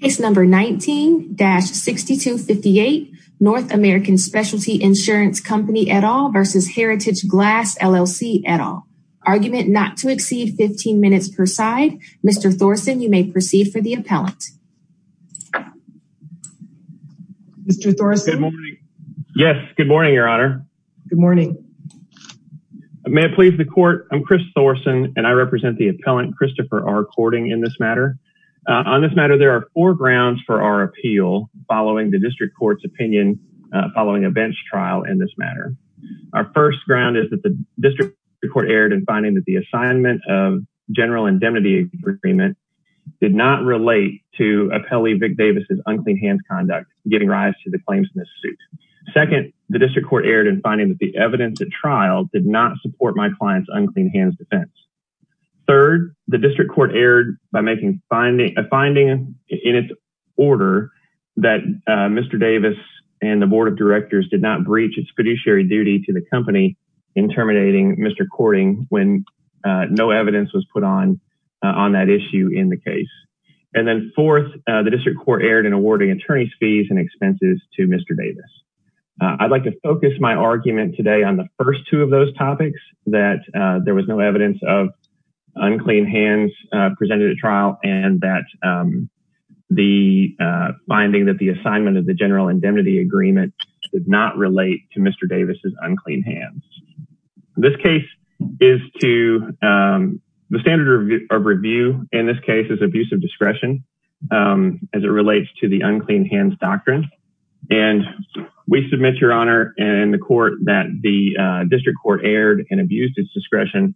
Case number 19-6258 North American Specialty Insurance Company et al versus Heritage Glass LLC et al. Argument not to exceed 15 minutes per side. Mr. Thorsen, you may proceed for the appellant. Mr. Thorsen. Good morning. Yes, good morning, your honor. Good morning. May it please the court. I'm Chris Thorsen and I represent the appellant Christopher R. Cording in this matter. On this matter, there are four grounds for our appeal following the district court's opinion following a bench trial in this matter. Our first ground is that the district court erred in finding that the assignment of general indemnity agreement did not relate to Appellee Vic Davis's unclean hands conduct giving rise to the claims in this suit. Second, the district court erred in finding that the evidence at trial did not support my client's unclean hands defense. Third, the district court erred by making a finding in its order that Mr. Davis and the board of directors did not breach its fiduciary duty to the company in terminating Mr. Cording when no evidence was put on on that issue in the case. And then fourth, the district court erred in awarding attorney's fees and expenses to Mr. Davis. I'd like to focus my argument today on the first two of those topics that there was no evidence of unclean hands presented at trial and that the finding that the assignment of the general indemnity agreement did not relate to Mr. Davis's unclean hands. This case is to the standard of review in this case is abusive discretion as it relates to the unclean hands doctrine and we submit your honor and the court that the district court erred and abused its discretion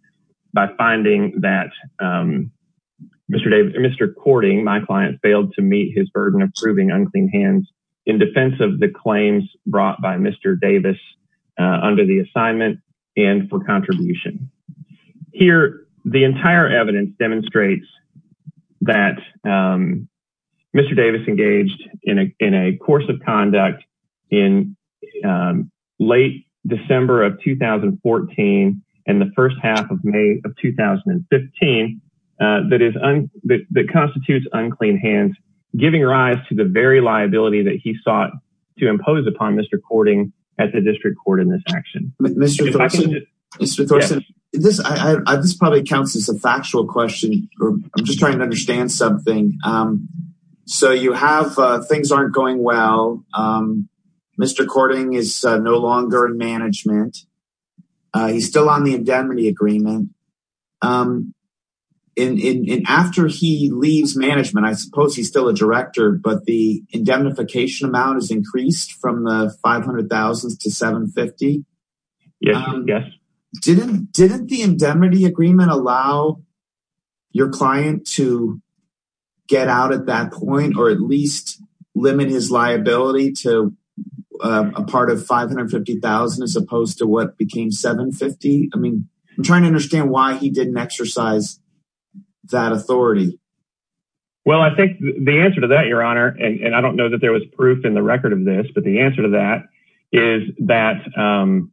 by finding that Mr. Davis, Mr. Cording, my client failed to meet his burden of proving unclean hands in defense of the claims brought by Mr. Davis under the assignment and for contribution. Here the entire evidence demonstrates that Mr. Davis engaged in a course of conduct in late December of 2014 and the first half of May of 2015 that constitutes unclean hands giving rise to the very liability that he sought to impose upon Mr. Cording at the district court in this action. Mr. Thorson, this probably counts as a factual question or I'm just trying to understand something. So you have things aren't going well. Mr. Cording is no longer in management. He's still on the indemnity agreement and after he leaves management, I suppose he's still a director, but the indemnification amount has increased from $500,000 to $750,000. Yes. Didn't the indemnity agreement allow your client to get out at that point or at least limit his liability to a part of $550,000 as opposed to what became $750,000? I mean I'm trying to understand why he didn't exercise that authority. Well I think the answer to that your honor and I don't know that there was proof in the record of the answer to that is that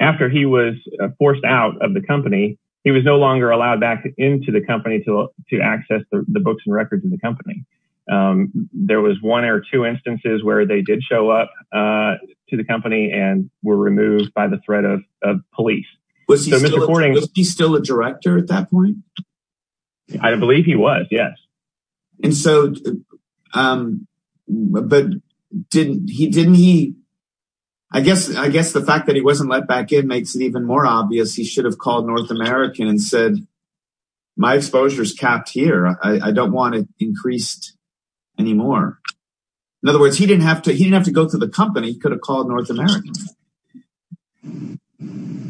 after he was forced out of the company, he was no longer allowed back into the company to access the books and records of the company. There was one or two instances where they did show up to the company and were removed by the threat of police. Was he still a um but didn't he didn't he I guess I guess the fact that he wasn't let back in makes it even more obvious he should have called North American and said my exposure is capped here. I don't want it increased anymore. In other words, he didn't have to he didn't have to go to the company. He could have called North America.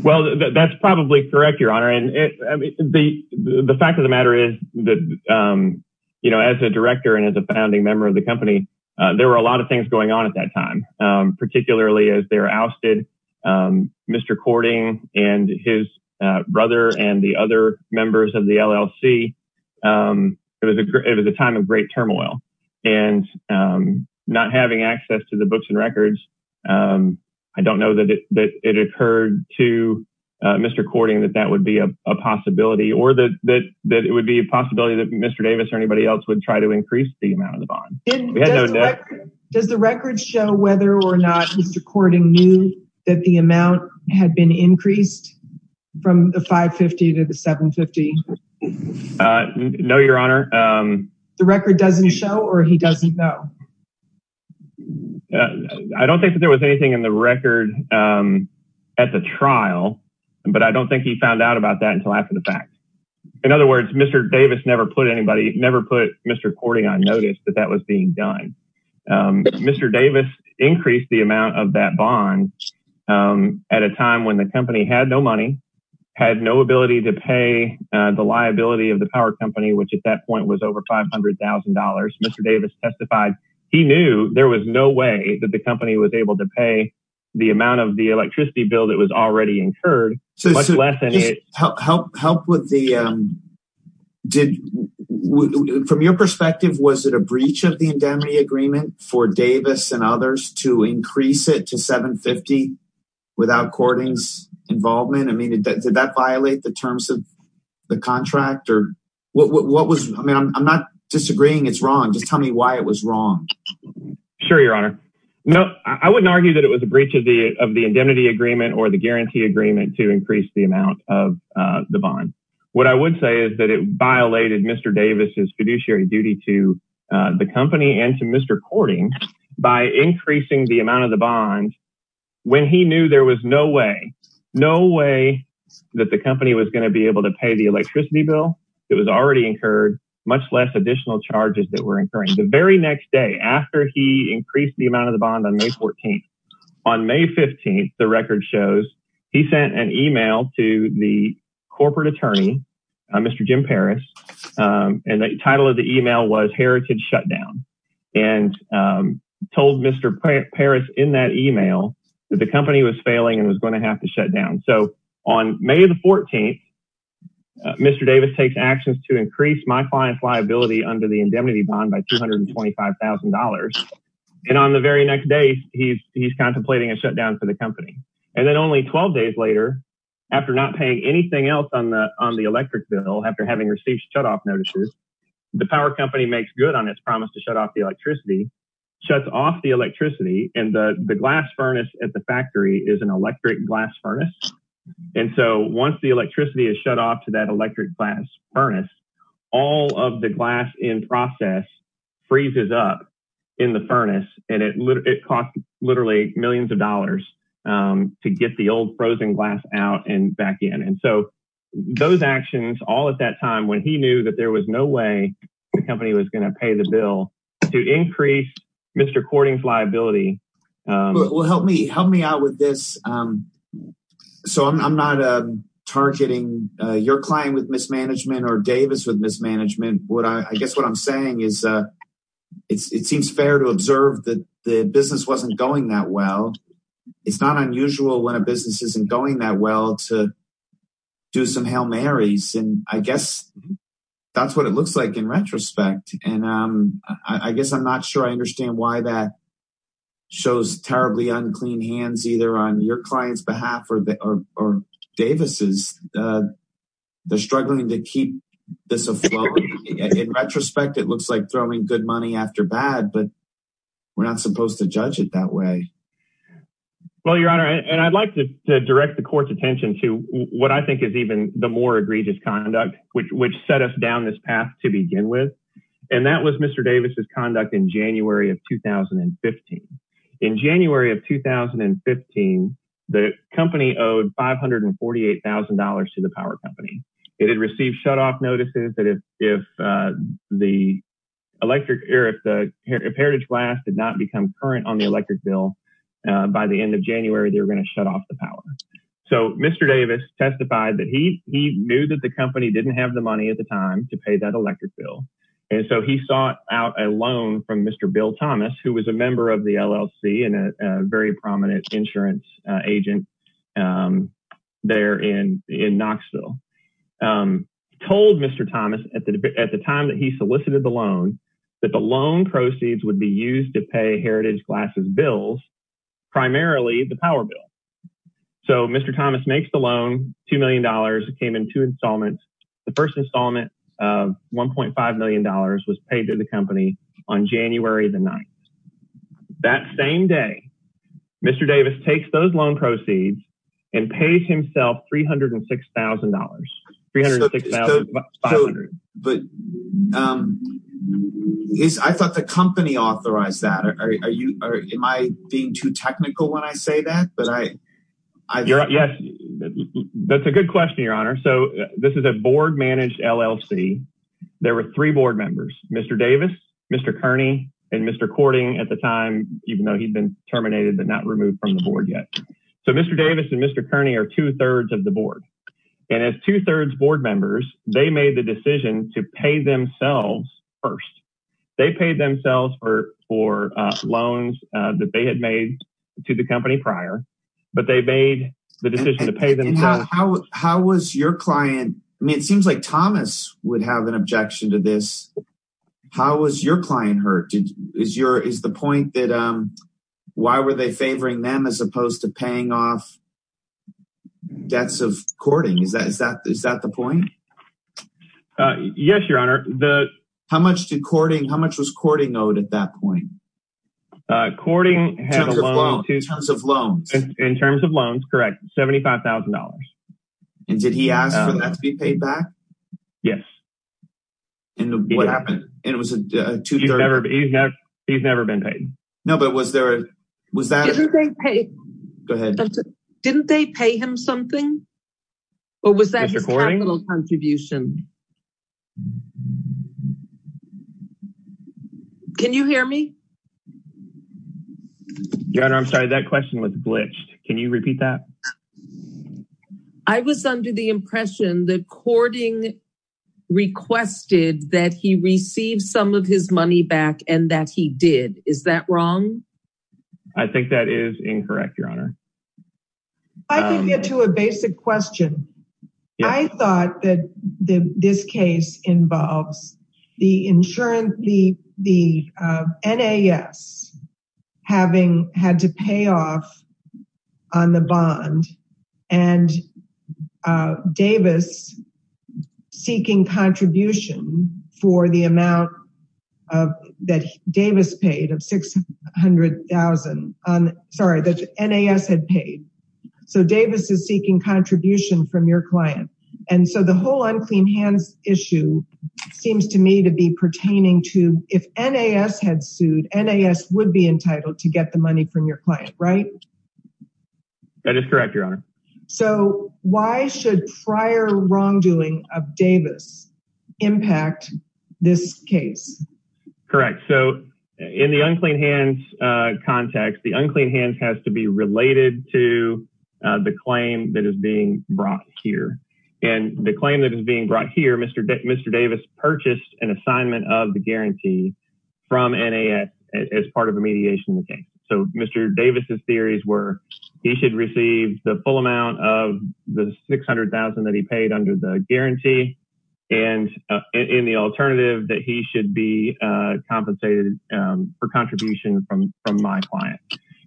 Well that's probably correct your honor and the the fact of matter is that you know as a director and as a founding member of the company there were a lot of things going on at that time. Particularly as they're ousted Mr. Cording and his brother and the other members of the LLC. It was a great it was a time of great turmoil and not having access to the books and records. I don't know that it occurred to Mr. Cording that that would be a it would be a possibility that Mr. Davis or anybody else would try to increase the amount of the bond. Does the record show whether or not Mr. Cording knew that the amount had been increased from the 550 to the 750? No your honor. The record doesn't show or he doesn't know? I don't think that there was anything in the record at the trial but I don't think he found out about that until after the fact. In other words Mr. Davis never put anybody never put Mr. Cording on notice that that was being done. Mr. Davis increased the amount of that bond at a time when the company had no money had no ability to pay the liability of the power company which at that point was over five hundred thousand dollars. Mr. Davis testified he knew there was no way that the company was able to pay the amount of the electricity bill that was already incurred. From your perspective was it a breach of the indemnity agreement for Davis and others to increase it to 750 without Cording's involvement? I mean did that violate the terms of the contract or what what was I mean I'm not disagreeing it's wrong just tell me why it was wrong. Sure your honor. No I wouldn't argue that it was a breach of the of the indemnity agreement or the guarantee agreement to increase the amount of the bond. What I would say is that it violated Mr. Davis's fiduciary duty to the company and to Mr. Cording by increasing the amount of the bond when he knew there was no way no way that the company was going to be able to pay the electricity bill. It was already incurred much less additional charges that were incurring the very next day after he increased the amount of the bond on May 14th. On May 15th the record shows he sent an email to the corporate attorney Mr. Jim Paris and the title of the email was heritage shutdown and told Mr. Paris in that email that the company was failing and was going to have to shut down so on May the 14th Mr. Davis takes actions to increase my client's liability under the indemnity bond by $225,000 and on the very next day he's he's contemplating a shutdown for the company and then only 12 days later after not paying anything else on the on the electric bill after having received shutoff notices the power company makes good on its promise to shut off the electricity shuts off the electricity and the the glass furnace at the factory is an electric glass furnace and so once the electricity is shut off to that electric glass furnace all of the glass in process freezes up in the furnace and it cost literally millions of dollars to get the old frozen glass out and back in and so those actions all at that time when he knew that there was no way the company was going to pay the bill to increase Mr. Cording's liability. Well help me help me out with this so I'm not targeting your client with mismanagement or it seems fair to observe that the business wasn't going that well. It's not unusual when a business isn't going that well to do some Hail Marys and I guess that's what it looks like in retrospect and I guess I'm not sure I understand why that shows terribly unclean hands either on your client's behalf or Davis's. They're struggling to keep this afloat in retrospect it looks like throwing good money after bad but we're not supposed to judge it that way. Well your honor and I'd like to direct the court's attention to what I think is even the more egregious conduct which which set us down this path to begin with and that was Mr. Davis's conduct in January of 2015. In January of 2015 the company owed $548,000 to the power company. It had received shutoff notices that if if the electric or if the heritage glass did not become current on the electric bill by the end of January they were going to shut off the power. So Mr. Davis testified that he he knew that the company didn't have the money at the time to pay that electric bill and so he sought out a loan from Mr. Bill Thomas who was a member of the LLC and a very prominent insurance agent there in in Knoxville told Mr. Thomas at the at the time that he solicited the loan that the loan proceeds would be used to pay heritage glasses bills primarily the power bill. So Mr. Thomas makes the loan two million dollars came in two installments the first installment of 1.5 million dollars was paid to the company on January the 9th. That same day Mr. Davis takes those loan proceeds and pays himself three hundred and six thousand dollars three hundred and six thousand five hundred. But um is I thought the company authorized that are are you are am I being too technical when I say that but I I. Yes that's a good question your honor. So this is a board managed LLC. There were three board members Mr. Davis Mr. Kearney and Mr. Cording at the time even though he'd been terminated but not removed from the board yet. So Mr. Davis and Mr. Kearney are two-thirds of the board and as two-thirds board members they made the decision to pay themselves first. They paid themselves for for loans that they had made to the company prior but they made the decision to pay How was your client I mean it seems like Thomas would have an objection to this. How was your client hurt? Did is your is the point that um why were they favoring them as opposed to paying off debts of Cording? Is that is that is that the point? Uh yes your honor the. How much did Cording how much was Cording owed at that point? Uh Cording had a loan. In terms of loans. In terms of loans correct seventy-five thousand dollars. And did he ask for that to be paid back? Yes. And what happened? It was a two-thirds. He's never he's never he's never been paid. No but was there a was that. Didn't they pay him something or was that his capital contribution? Can you hear me? Your honor I'm sorry that question was glitched. Can you repeat that? I was under the impression that Cording requested that he receive some of his money back and that he did. Is that wrong? I think that is incorrect your honor. I can get to a basic question. I thought that the this case involves the insurance the the NAS having had to pay off on the bond and Davis seeking contribution for the amount of that Davis paid of six hundred thousand on sorry that NAS had paid. So Davis is seeking contribution from your client and so the whole unclean hands issue seems to me to be pertaining to if NAS had sued. NAS would be entitled to get the money from your client right? That is correct your honor. So why should prior wrongdoing of Davis impact this case? Correct so in the unclean hands context the unclean hands has to be related to the claim that is being brought here and the claim that is being brought here Mr. Davis purchased an assignment of the guarantee from NAS as part of a mediation. So Mr. Davis's theories were he should receive the full amount of the six hundred thousand that he paid under the guarantee and in the alternative that he should be compensated for contribution from from my client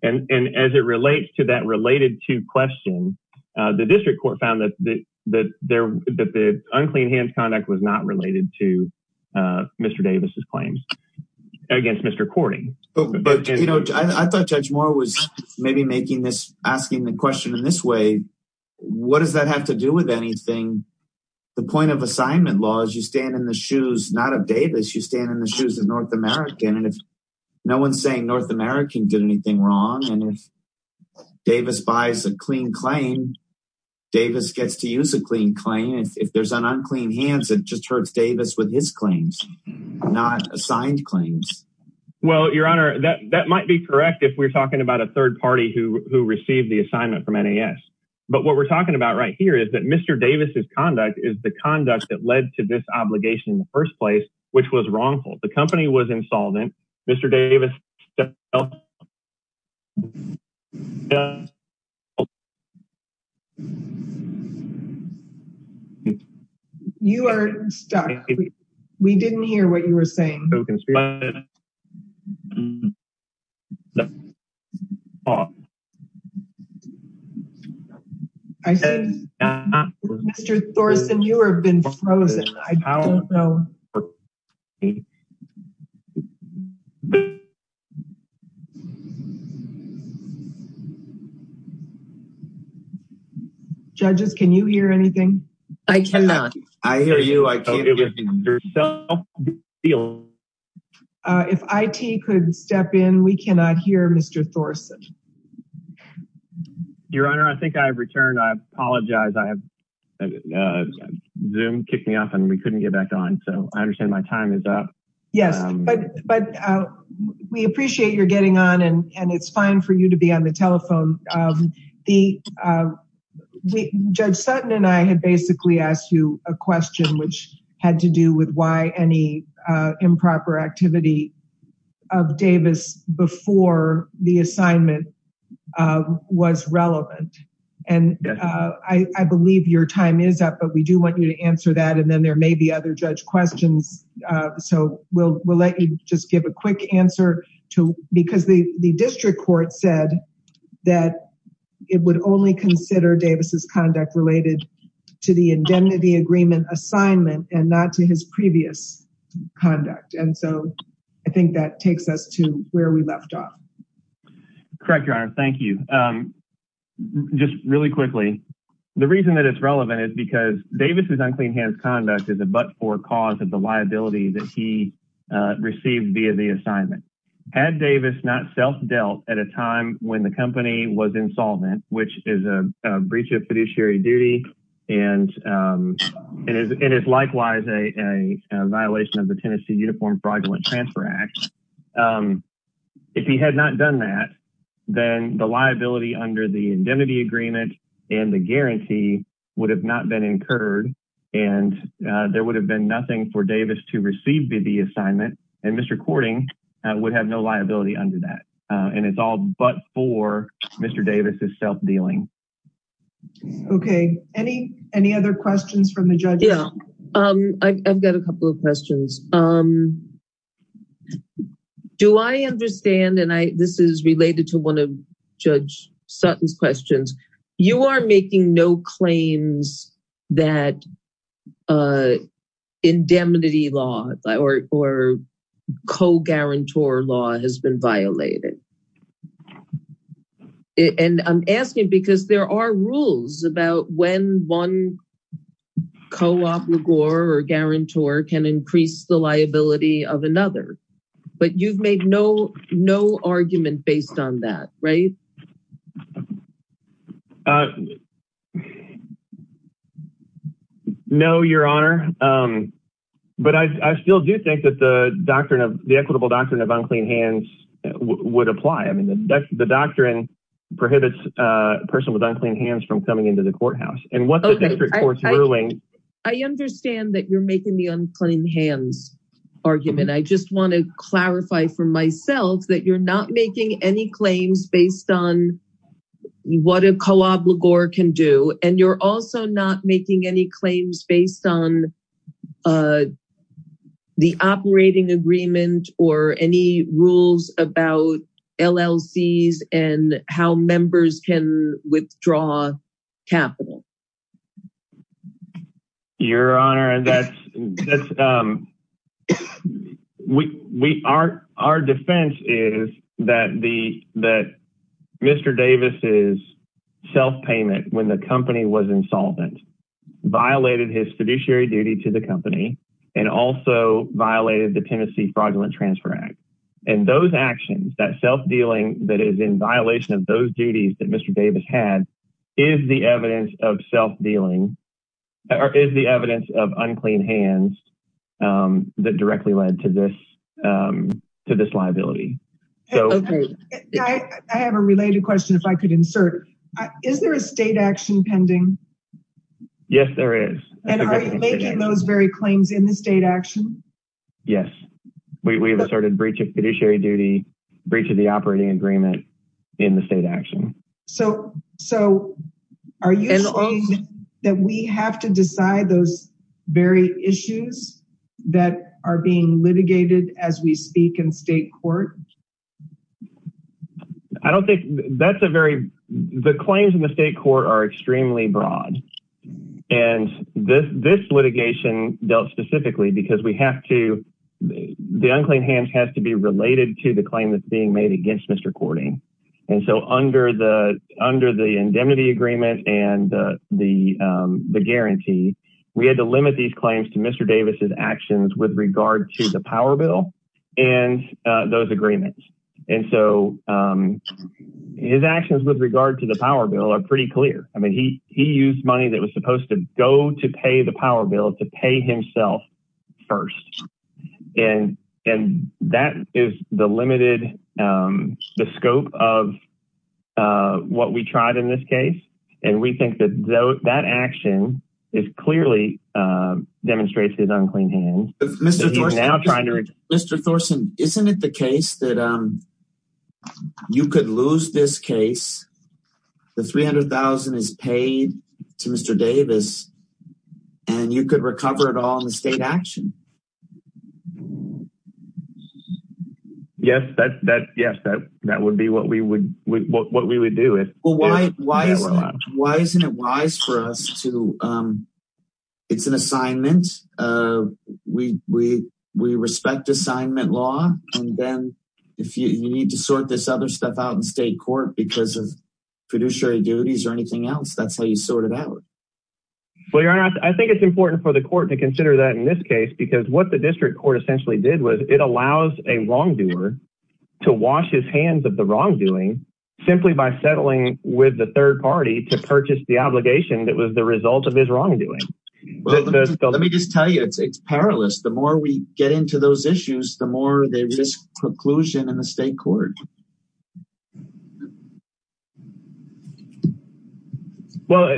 and and as it relates to that related to question the district court found that that there that the unclean hands conduct was not related to Mr. Davis's claims against Mr. Cordy. But you know I thought Judge Moore was maybe making this asking the question in this way what does that have to do with anything the point of assignment law is you stand in the shoes not of Davis you stand in the shoes of North American and if no one's saying North American did anything wrong and if Davis buys a clean claim Davis gets to use a clean claim if there's an unclean hands it just hurts Davis with his claims not assigned claims. Well your honor that that might be correct if we're talking about a third party who who received the assignment from NAS but what we're talking about right here is that Mr. Davis's conduct is the conduct that led to this obligation in the first place which was wrongful the company was insolvent Mr. Davis You are stuck we didn't hear what you were saying I said Mr. Thorsen you have been frozen I don't know Judges can you hear anything? I cannot I hear you I can't If IT could step in we cannot hear Mr. Thorsen Your honor I think I have returned I apologize I have Zoom kicked me off and we couldn't get back on so I understand my time is up Yes but but we appreciate your getting on and and it's fine for you to be on the telephone The judge Sutton and I had basically asked you a question which had to do with why any improper activity of Davis before the assignment was relevant and I believe your time is up but we do want you to answer that and then there may be other judge questions so we'll we'll let you just give a quick answer to because the the district court said that it would only consider Davis's conduct related to the indemnity agreement assignment and not to his previous conduct and so I think that takes us to where we left off correct your honor thank you just really quickly the reason that it's relevant is because Davis's unclean hands conduct is a but or cause of the liability that he received via the assignment had Davis not self-dealt at a time when the company was insolvent which is a breach of fiduciary duty and it is likewise a violation of the Tennessee Uniform Fraudulent Transfer Act if he had not done that then the liability under the indemnity agreement and the guarantee would have not been incurred and there would have been nothing for Davis to receive the assignment and Mr. Courting would have no liability under that and it's all but for Mr. Davis's self-dealing okay any any other questions from the judge yeah I've got a couple of questions do I understand and I this is related to one of Sutton's questions you are making no claims that indemnity law or co-guarantor law has been violated and I'm asking because there are rules about when one co-op or guarantor can increase the liability of another but you've made no no argument based on that right no your honor but I still do think that the doctrine of the equitable doctrine of unclean hands would apply I mean the doctrine prohibits a person with unclean hands from coming into the courthouse and what the district court's ruling I understand that you're making the unclean hands argument I just want to clarify for myself that you're not making any claims based on what a co-op legor can do and you're also not making any claims based on uh the operating agreement or any rules about LLCs and how members can withdraw capital your honor and that's that's um we we are our defense is that the that Mr. Davis's self-payment when the company was insolvent violated his fiduciary duty to the company and also violated the Tennessee fraudulent transfer act and those actions that self-dealing that is in violation of those duties that Mr. Davis had is the evidence of self-dealing or is the evidence of unclean hands um that directly led to this um to this liability so okay I have a related question if I could insert is there a state action pending yes there is and are you making those very claims in the state action yes we have asserted breach of fiduciary duty breach of the operating agreement in the state action so so are you saying that we have to decide those very issues that are being litigated as we speak in state court I don't think that's a very the claims in the state court are extremely broad and this this litigation dealt specifically because we have to the unclean hands has to be related to the claim that's being made against Mr. Courting and so under the under the indemnity agreement and the the um the guarantee we had to limit these claims to Mr. Davis's actions with regard to the power bill and uh those agreements and so um his actions with regard to the power bill are pretty clear I mean he he used money that was supposed to go to pay the power bill to pay himself first and and that is the limited um the scope of uh what we tried in this case and we that action is clearly uh demonstrates his unclean hands Mr. Thorson isn't it the case that um you could lose this case the 300,000 is paid to Mr. Davis and you could recover it all in the state action yes that's that yes that that would be what we would what we would do it well why why isn't it wise for us to um it's an assignment uh we we we respect assignment law and then if you need to sort this other stuff out in state court because of fiduciary duties or anything else that's how you sort it out well your honor I think it's important for the court to consider that in this case because what the district court essentially did was it allows a wrongdoer to wash his hands of the wrongdoing simply by settling with the third party to purchase the obligation that was the result of his wrongdoing let me just tell you it's it's perilous the more we get into those issues the more they risk preclusion in the state court well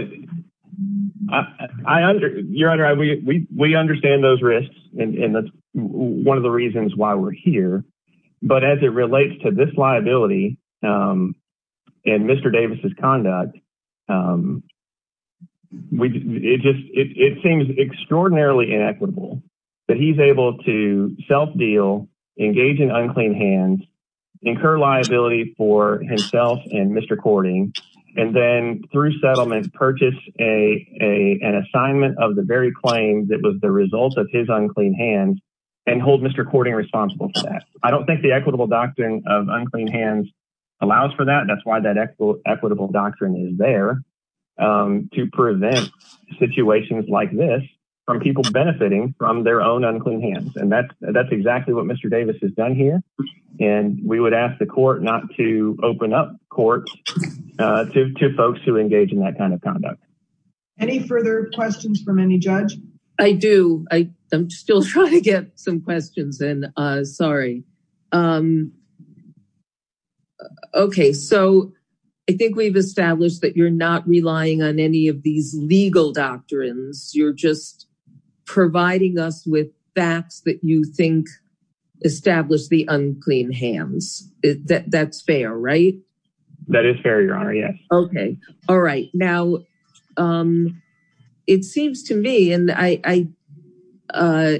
I under your honor I we we understand those risks and and that's one of the reasons why we're here but as it relates to this liability um and Mr. Davis's conduct um we it just it seems extraordinarily inequitable that he's able to self-deal engage in unclean hands incur liability for himself and Mr. Cording and then through settlement purchase a a an assignment of the very claim that was the result of his unclean hands and hold Mr. Cording responsible for that I don't think the equitable doctrine of unclean hands allows for that that's why that equitable doctrine is there um to prevent situations like this from people benefiting from their own unclean hands and that's that's exactly what Mr. Davis has done here and we would ask the court not to open up courts uh to to folks who engage in that kind of conduct any further questions from any judge I do I I'm still trying to get some questions in uh sorry um okay so I think we've established that you're not relying on any of these legal doctrines you're just providing us with facts that you think establish the unclean hands that that's fair that is fair your honor yes okay all right now um it seems to me and I I uh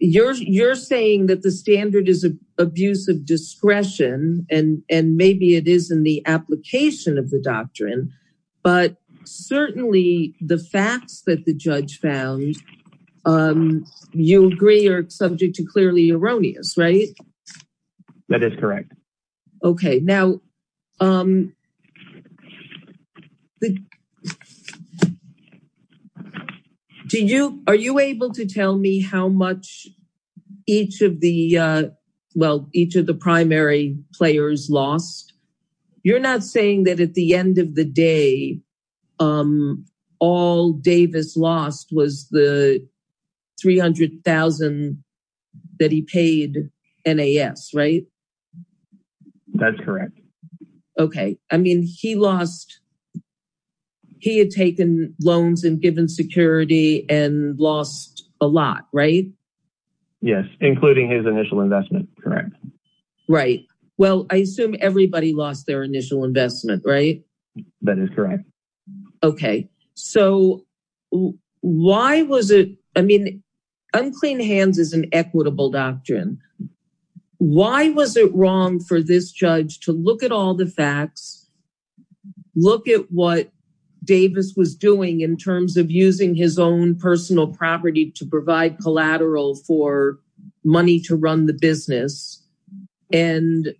you're you're saying that the standard is a abuse of discretion and and maybe it is in the application of the doctrine but certainly the facts that the judge found um you agree are subject to clearly erroneous right that is correct okay now um do you are you able to tell me how much each of the uh well each of the primary players lost you're not saying that at the end of the day um all Davis lost was the 300,000 that he paid NAS right that's correct okay I mean he lost he had taken loans and given security and lost a lot right yes including his initial investment correct right well I assume everybody lost their initial investment right that is correct okay so why was it I mean unclean hands is an equitable doctrine why was it wrong for this judge to look at all the facts look at what Davis was doing in terms of using his own personal property to provide collateral for money to run the business and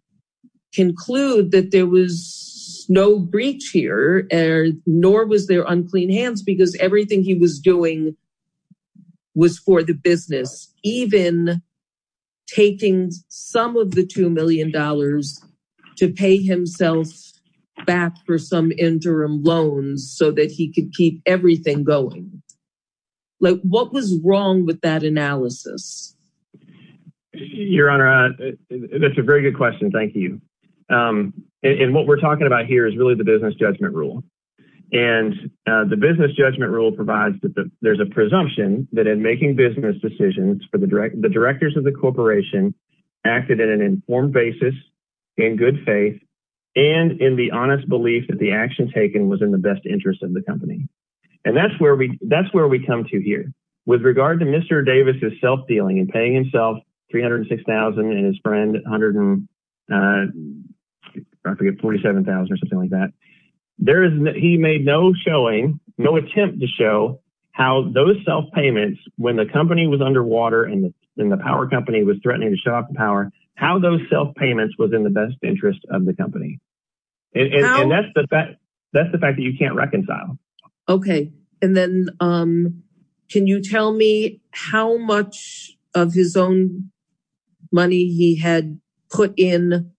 conclude that there was no breach here and nor was there unclean hands because everything he was doing was for the business even taking some of the two million dollars to pay himself back for some interim loans so that he could keep everything going like what was wrong with that analysis your honor that's a very good question thank you um and what we're talking about here is really the business judgment rule and the business judgment rule provides that there's a presumption that in making business decisions for the direct the directors of the corporation acted in an informed basis in good faith and in the honest belief that the action taken was in the best interest of the company and that's where we that's where we come to here with regard to Mr. Davis's self-dealing and paying himself 306,000 and his friend 147,000 or something like that there is he made no showing no attempt to show how those self-payments when the company was underwater and the power company was threatening to show off the power how those self-payments was in the best interest of the company and that's the fact that you can't reconcile okay and then um can you tell me how much of his own money he had put in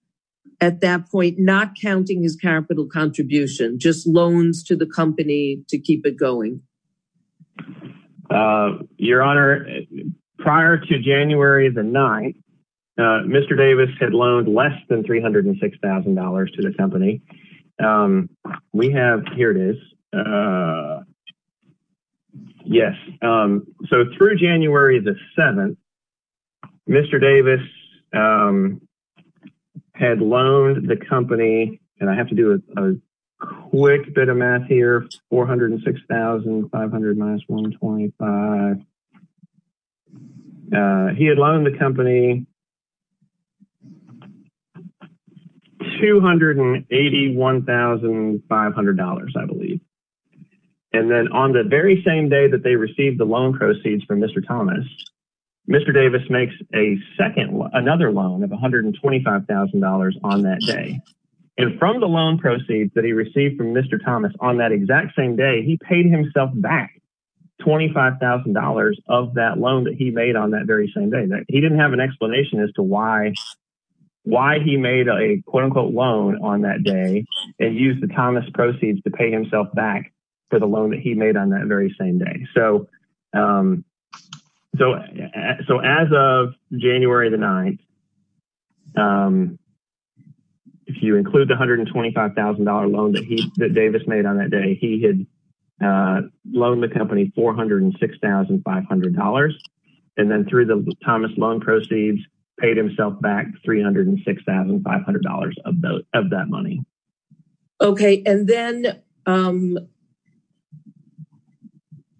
at that point not counting his capital contribution just loans to the company to keep it going uh your honor prior to January the 9th uh Mr. Davis had loaned less than $306,000 to the company um we have here it is uh yes um so through January the 7th Mr. Davis um had loaned the company and I have to do a quick bit of math here 406,500 minus 125 uh he had loaned the company 281,500 I believe and then on the very same day that they received the loan proceeds from Mr. Thomas Mr. Davis makes a second another loan of $125,000 on that day and from the loan proceeds that he received from Mr. Thomas on that exact same day he paid himself back $25,000 of that loan that he made on that very same day that he didn't have an explanation as to why why he made a quote-unquote loan on that day and used the Thomas proceeds to pay himself back for the loan he made on that very same day so um so so as of January the 9th um if you include the $125,000 loan that he that Davis made on that day he had uh loaned the company $406,500 and then through the Thomas loan proceeds paid himself back $306,500 of those of that money okay and then um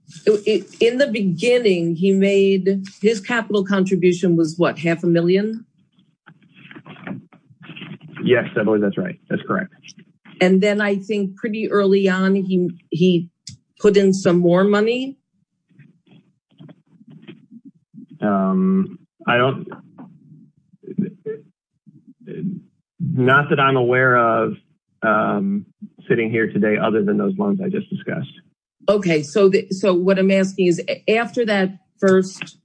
so in the beginning he made his capital contribution was what half a million yes I believe that's right that's correct and then I think pretty early on he he put in some more money um I don't not that I'm aware of um sitting here today other than those loans I just discussed okay so so what I'm asking is after that first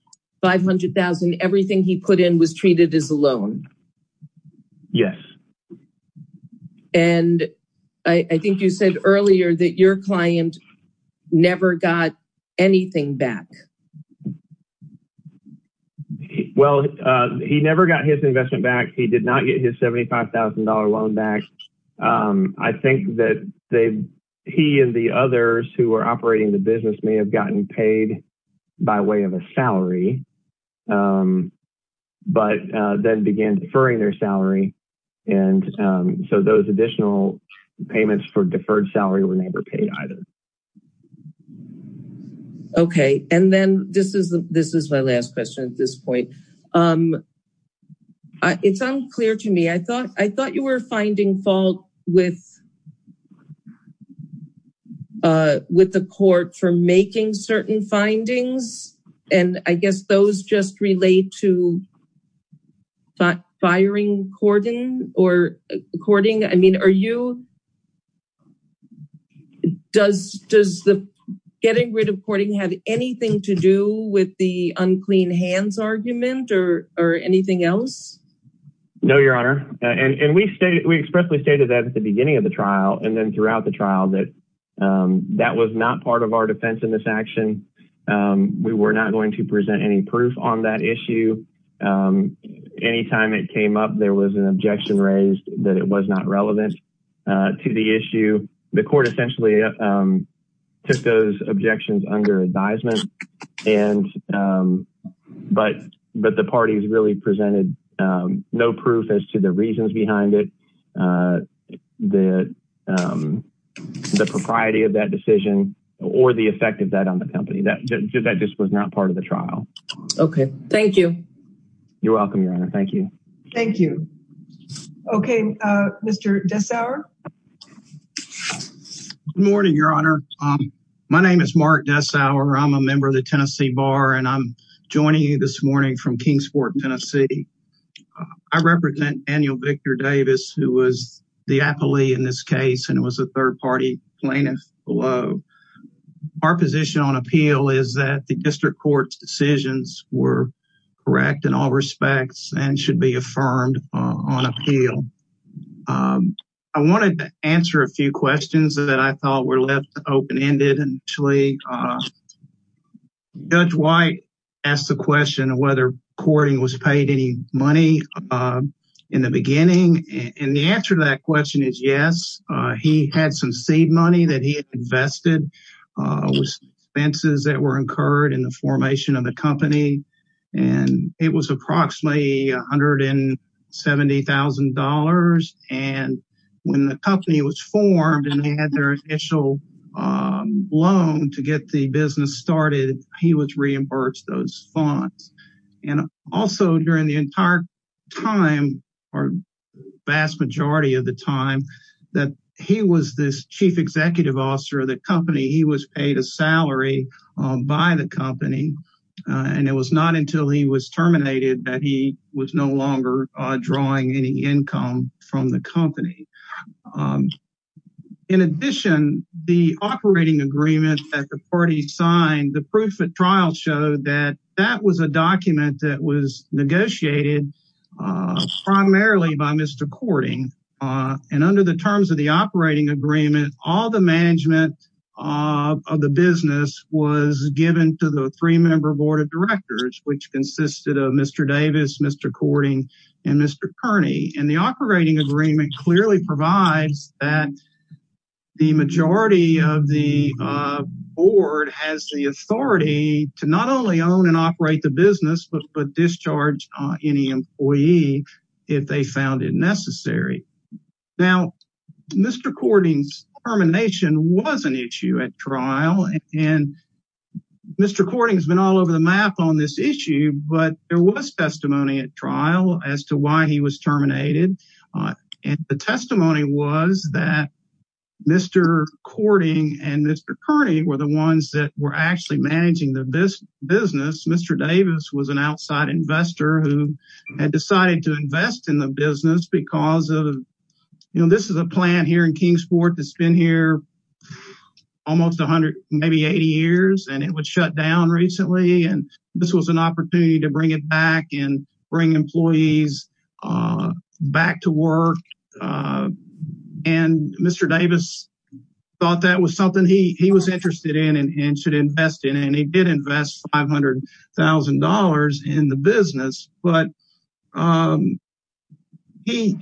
$500,000 everything he put in was treated as a loan yes and I I think you said earlier that your client never got anything back well uh he never got his investment back he did not get his $75,000 loan back um I think that they he and the others who are operating the business may have gotten paid by way of a salary um but uh then began deferring their salary and um so those additional payments for deferred salary were never paid either okay and then this is this is my last question at this point um uh it's unclear to me I thought I thought you were finding fault with uh with the court for making certain findings and I guess those just relate to firing cordon or according I mean are you does does the getting rid of courting have anything to do with the unclean hands argument or or anything else no your honor and and we stated we expressly stated that at the beginning of the trial and then throughout the trial that um that was not part of our defense in this action um we were not going to present any proof on that issue um anytime it came up there was an objection raised that it was not relevant uh to the issue the court essentially um took those really presented um no proof as to the reasons behind it uh the um the propriety of that decision or the effect of that on the company that that just was not part of the trial okay thank you you're welcome your honor thank you thank you okay uh mr desauer good morning your honor um my name is mark desauer i'm a member of the tennessee bar and i'm from kingsport tennessee i represent daniel victor davis who was the appellee in this case and was a third party plaintiff below our position on appeal is that the district court's decisions were correct in all respects and should be affirmed on appeal um i wanted to answer a few questions that i thought were left open-ended and actually uh judge white asked the question whether courting was paid any money uh in the beginning and the answer to that question is yes uh he had some seed money that he invested uh expenses that were incurred in the formation of the company and it was approximately a hundred and seventy thousand dollars and when the company was formed and they had their initial um loan to get the business started he was reimbursed those funds and also during the entire time or vast majority of the time that he was this chief executive officer of the company he was paid a salary by the company and it was not until he was terminated that he was no longer drawing any income from the company in addition the operating agreement that the party signed the proof of trial showed that that was a document that was negotiated uh primarily by mr courting uh and under the terms of the operating agreement all the management of the business was given to the three member board of directors which consisted of mr davis mr courting and mr kearney and the operating agreement clearly provides that the majority of the uh board has the authority to not only own and operate the business but discharge any employee if they found it necessary now mr courting's termination was an issue at trial and mr courting has been all over the map on this issue but there was testimony at trial as to why he was terminated and the testimony was that mr courting and mr kearney were the ones that were actually managing the business mr davis was an outside investor who had decided to invest in the business because of you know this is a plant here in kingsport that's been here almost 100 maybe 80 years and it would shut down recently and this was an opportunity to bring it uh back to work uh and mr davis thought that was something he he was interested in and should invest in and he did invest 500 000 in the business but um he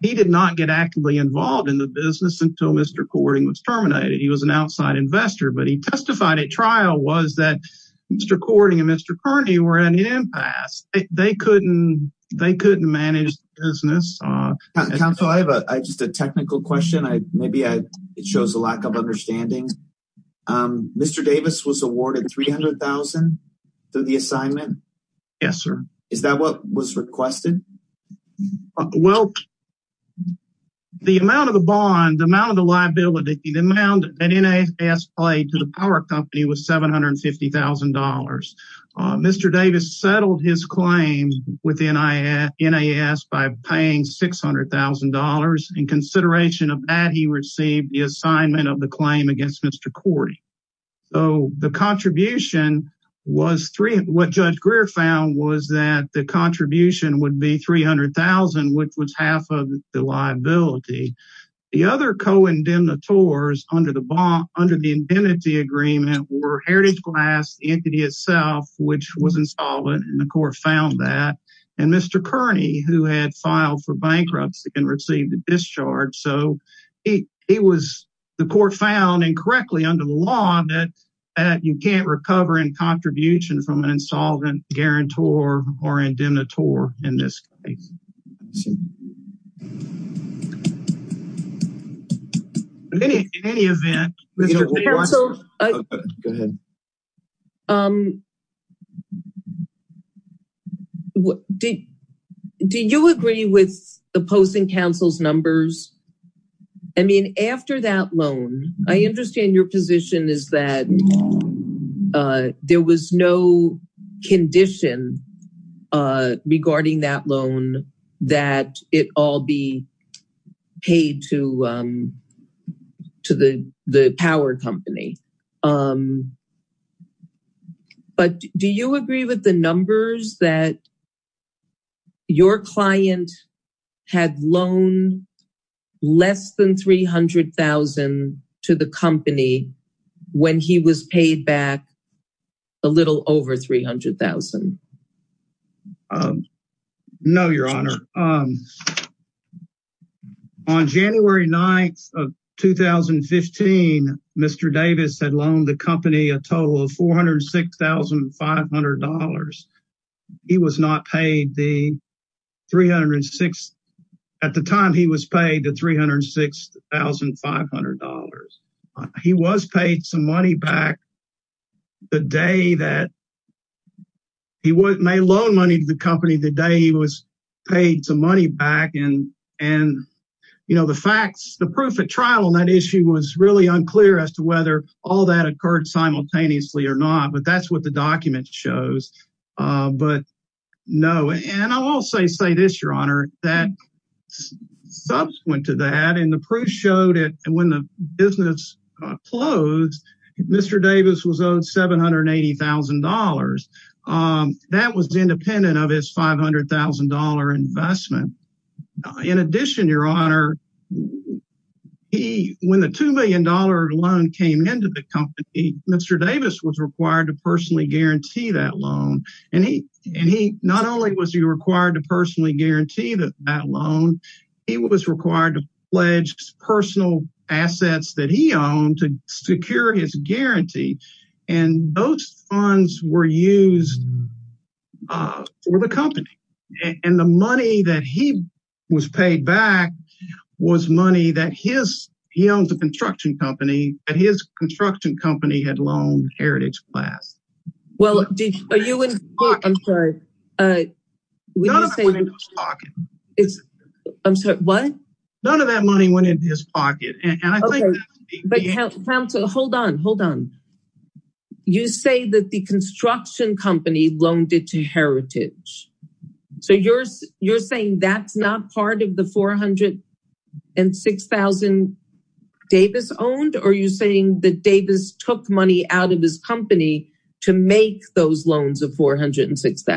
he did not get actively involved in the business until mr courting was terminated he was an outside investor but he they couldn't manage the business uh council i have a just a technical question i maybe i it shows a lack of understanding um mr davis was awarded 300 000 through the assignment yes sir is that what was requested well the amount of the bond the amount of the liability the amount that nas played to the power company was 750 000 mr davis settled his claim with nas by paying 600 000 in consideration of that he received the assignment of the claim against mr courty so the contribution was three what judge greer found was that the contribution would be 300 000 which was half of the liability the other co-indemnitors under the bond under the and mr kearney who had filed for bankruptcy and received the discharge so he he was the court found incorrectly under the law that that you can't recover in contribution from an insolvent guarantor or indemnitore in this case see in any in any event go ahead um what did do you agree with opposing council's numbers i mean after that loan i understand your position is that uh there was no condition uh regarding that loan that it all be paid to um to the the power company um but do you agree with the numbers that your client had loaned less than 300 000 to the company when he was paid back a little over 300 000 um no your honor um on january 9th of 2015 mr davis had loaned the company a total of 406 500 he was not paid the 306 at the time he was paid the 306 500 he was paid some money back the day that he was made loan money to the company the day he was paid some money back and and you know the facts the proof of trial on that issue was really unclear as to whether all that occurred simultaneously or not but that's what the document shows uh but no and i'll also say this your honor that subsequent to that and the proof showed it when the business closed mr davis was owed 780 000 um that was independent of his 500 000 investment in addition your honor he when the two million dollar loan came into the company mr davis was required to personally guarantee that loan and he and he not only was he required to personally guarantee that that loan he was required to pledge personal assets that he owned to secure his guarantee and those funds were used uh for the company and the money that he was paid back was money that his he owns a construction company that his construction company had loaned heritage class well are you in i'm sorry uh we don't say in his pocket it's i'm sorry what none of that money went into his pocket and but hold on hold on you say that the construction company loaned it to heritage so you're you're saying that's not part of the 406 000 davis owned are you saying that davis took money out of his company to make those loans of 406 000 uh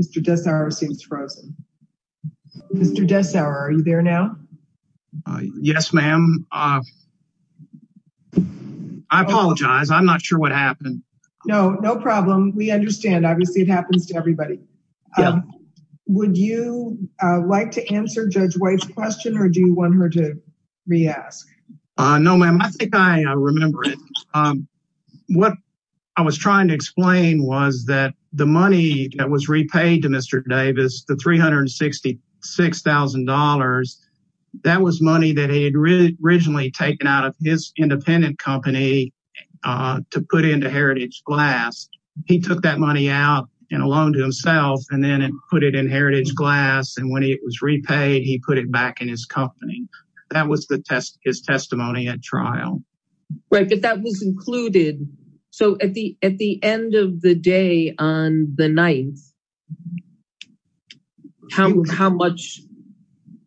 mr desauer seems frozen mr desauer are you there now uh yes ma'am uh i apologize i'm not sure what happened no no problem we understand obviously it happens to everybody um would you uh like to answer judge white's question or do you want her to re-ask uh no ma'am i think i remember it um what i was trying to explain was that the money that was repaid to mr davis the 366 000 that was money that he had originally taken out of his independent company uh to put into heritage glass he took that money out and a loan to himself and then and put it in heritage glass and when it was repaid he put it back in his company that was the test his testimony at trial right but that was included so at the at the end of the day on the 9th how how much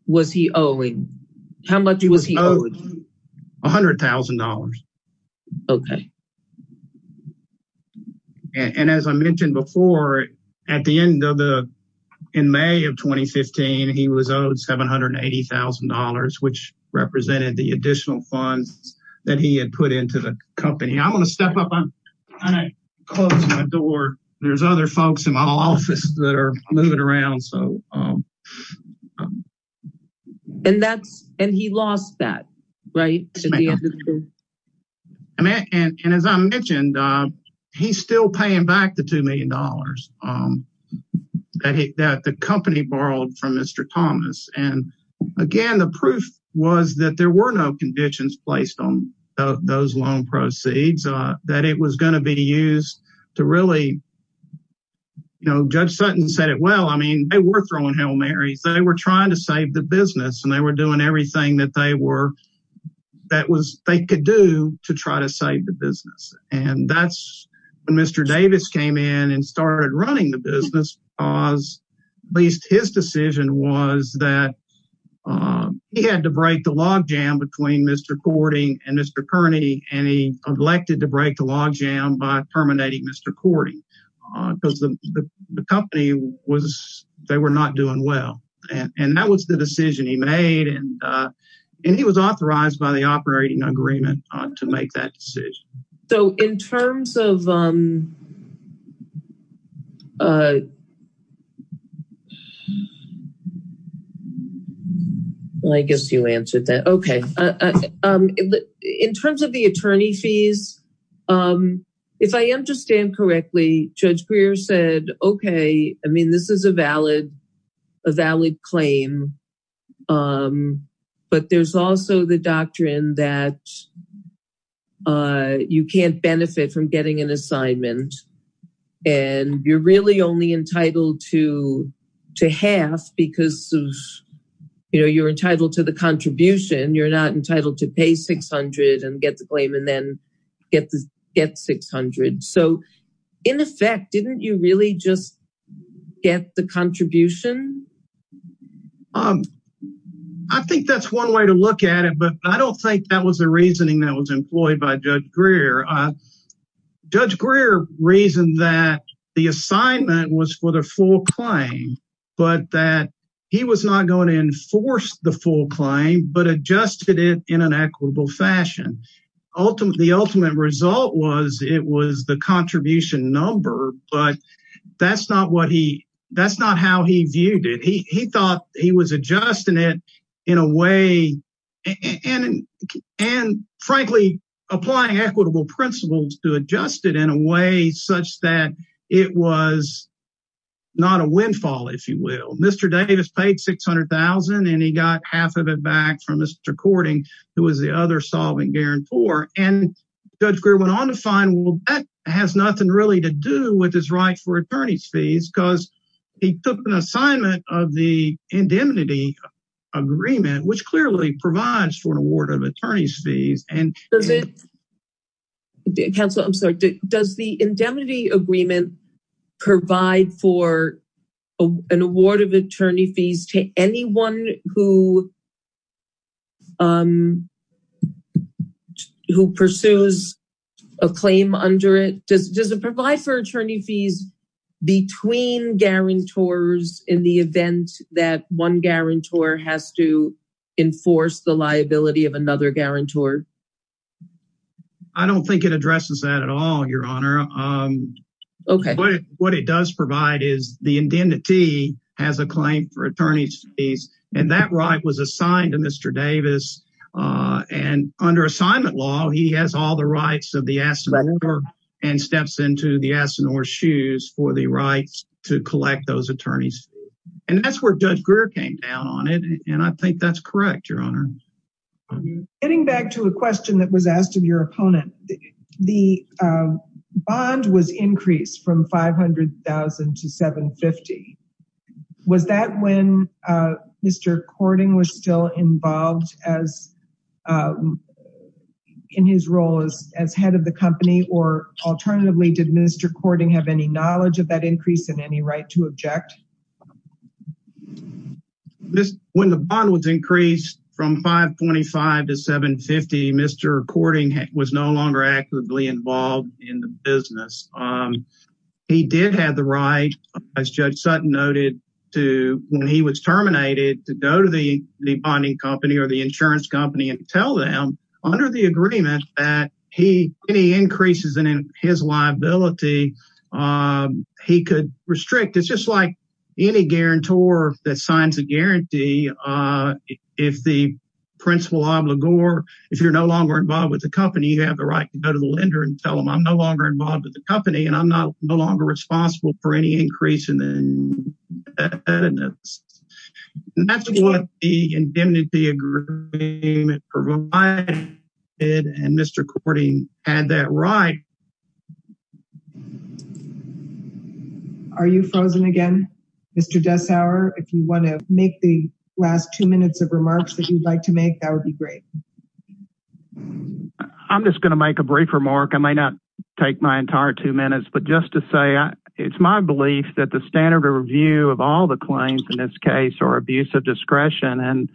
was he owing how much was he owed a hundred thousand dollars okay um and as i mentioned before at the end of the in may of 2015 he was owed 780 000 which represented the additional funds that he had put into the company i'm going to step up i'm gonna close my door there's other folks in my office that are moving around so um um and that's and he lost that right and as i mentioned uh he's still paying back the two million dollars um that he that the company borrowed from mr thomas and again the proof was that there were no conditions placed on those loan proceeds uh that it was going to be used to really you know judge sutton said it well i mean they were throwing hail marys they were trying to save the business and they were doing everything that they were that was they could do to try to save the business and that's when mr davis came in and started running the business because at least his decision was that um he had to break the log jam between mr courting and mr and he elected to break the log jam by terminating mr courting because the the company was they were not doing well and and that was the decision he made and uh and he was authorized by the operating agreement to make that decision so in terms of um uh um well i guess you answered that okay um in terms of the attorney fees um if i understand correctly judge grier said okay i mean this is a valid a valid claim um but there's also the doctrine that uh you can't benefit from getting an assignment and you're really only entitled to to half because of you know you're entitled to the contribution you're not entitled to pay 600 and get the claim and then get the get 600 so in effect didn't you really just get the contribution um i think that's one way to look at it but i don't think that was the reasoning that was employed by judge grier uh judge grier reasoned that the assignment was for the full claim but that he was not going to enforce the full claim but adjusted it in an equitable fashion ultimate the ultimate result was it was the contribution number but that's not what that's not how he viewed it he he thought he was adjusting it in a way and and frankly applying equitable principles to adjust it in a way such that it was not a windfall if you will mr davis paid 600 000 and he got half of it back from mr courting who was the other solvent guarantor and judge grier went on to find well that has nothing really to do with his right for attorney's fees because he took an assignment of the indemnity agreement which clearly provides for an award of attorney's fees and does it council i'm sorry does the indemnity agreement provide for an award of attorney fees to anyone who um who pursues a claim under it does it provide for attorney fees between guarantors in the event that one guarantor has to enforce the liability of another guarantor i don't think it addresses that at all your honor um okay what it does provide is the indemnity has a claim for attorney's fees and that right was assigned to mr davis uh and under assignment law he has all the rights of the astonisher and steps into the aston or shoes for the rights to collect those attorneys and that's where judge grier came down on it and i think that's correct your honor getting back to a question that was asked of your opponent the uh bond was increased from 500 000 to 750 was that when uh mr cording was still involved as um in his role as as head of the company or alternatively did mr cording have any knowledge of that increase in any right to object this when the bond was increased from 525 to 750 mr cording was no longer actively involved in the business um he did have the right as judge sutton noted to when he was terminated to go to the bonding company or the insurance company and tell them under the agreement that he any increases in his liability um he could restrict it's just like any guarantor that signs a guarantee uh if the principal obligor if you're no longer involved with the company you have the right to go to the lender and tell them i'm no longer involved with the company and i'm not no longer responsible for any increase in the evidence that's what the indemnity agreement provided and mr cording had that right are you frozen again mr desauer if you want to make the last two minutes of remarks that you'd like to make that would be great um i'm just going to make a brief remark i may not take my entire two minutes but just to say it's my belief that the standard review of all the claims in this case or abuse of discretion and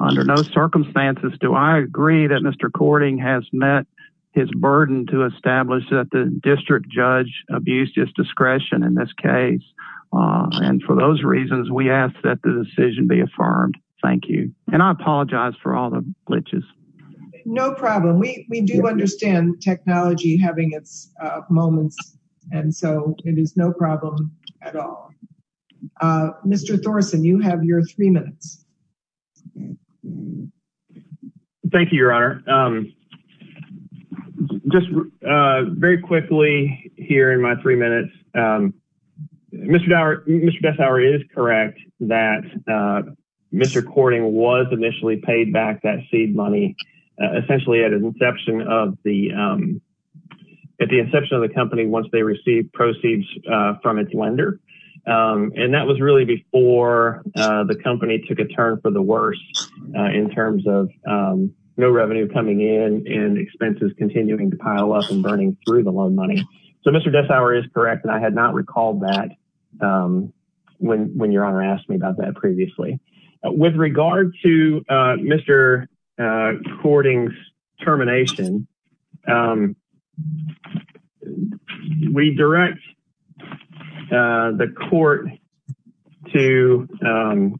under no circumstances do i agree that mr cording has met his burden to establish that the district judge abused his discretion in this case and for those reasons we ask that the decision be affirmed thank you and i apologize for all the glitches no problem we we do understand technology having its uh moments and so it is no problem at all uh mr thorson you have your three minutes thank you your honor um just uh very quickly here in my three minutes um mr dower mr desauer is correct that uh mr cording was initially paid back that seed money essentially at an inception of the um at the inception of the company once they received proceeds uh from its lender um and that was really before uh the company took a turn for the worse in terms of um no revenue coming in and expenses continuing to pile up and burning through the um when when your honor asked me about that previously with regard to uh mr uh cording's termination um we direct uh the court to um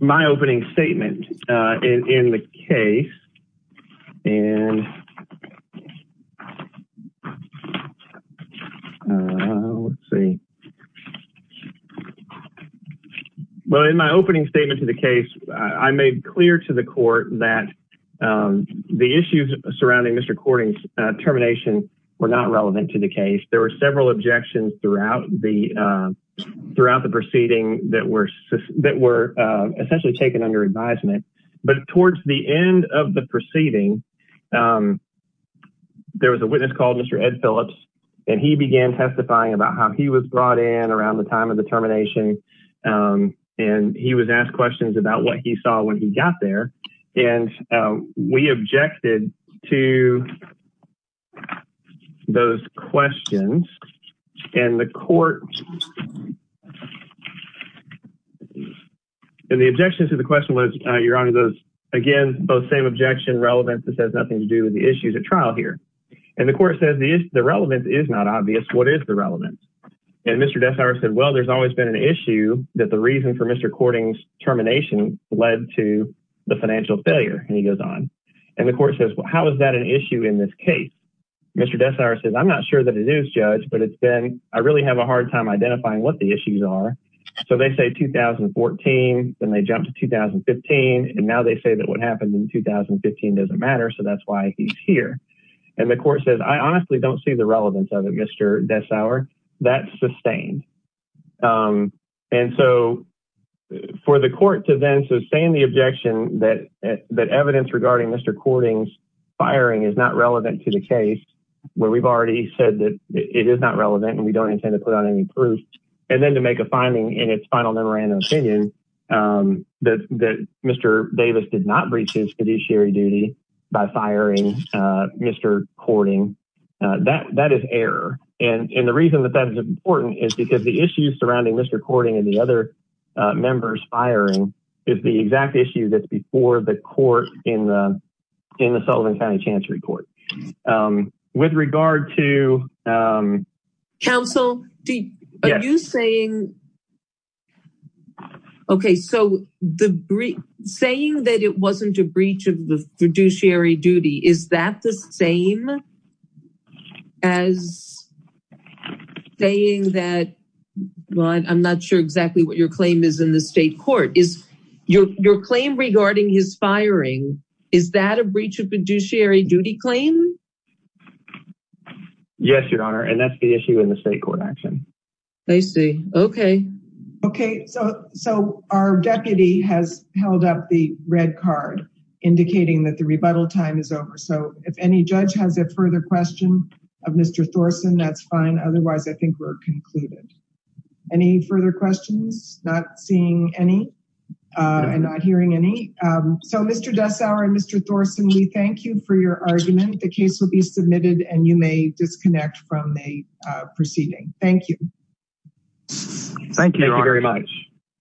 my opening statement uh in in the case and let's see well in my opening statement to the case i made clear to the court that um the issues surrounding mr cording's termination were not relevant to the case there were several objections throughout the um throughout the proceeding that were that were uh essentially taken under advisement but towards the end of the proceeding um there was a witness called mr ed phillips and he began testifying about how he was brought in around the time of the termination um and he was asked questions about what he saw when he got there and we objected to those questions and the court and the objection to the question was uh your honor those again both same objection relevance has nothing to do with the issues at trial here and the court says the relevance is not obvious what is the relevance and mr desire said well there's always been an issue that the reason for mr cording's termination led to the financial failure and he goes on and the court says well how is that an issue in this case mr desire says i'm not sure that it is judge but it's been i really have a hard time identifying what the issues are so they say 2014 then they jump to 2015 and now they say that what happened in 2015 doesn't matter so that's why he's here and the court says i honestly don't see the relevance of it mr desire that's sustained um and so for the court to then sustain the objection that that evidence regarding mr cording's firing is not relevant to the case where we've already said that it is not relevant and we don't intend to put on any proof and then to make a finding in its final memorandum opinion um that that mr davis did not breach his fiduciary duty by firing uh mr courting that that is error and and the reason that that is important is because the issues surrounding mr courting and the other uh members firing is the exact issue that's before the court in the in the sullivan county chancery court um with regard to um council are you saying okay so the saying that it wasn't a breach of the fiduciary duty is that the same as saying that well i'm not sure exactly what your claim is in the state court is your your claim regarding his firing is that a breach of fiduciary duty claim yes your honor and that's the issue in the state court action i see okay okay so so our deputy has held up the red card indicating that the rebuttal time is over so if any judge has a further question of mr thorson that's fine otherwise i think we're concluded any further questions not seeing any uh and not hearing any um so mr dusour and mr thorson we thank you for your argument the case will be submitted and you may disconnect from the uh proceeding thank you thank you very much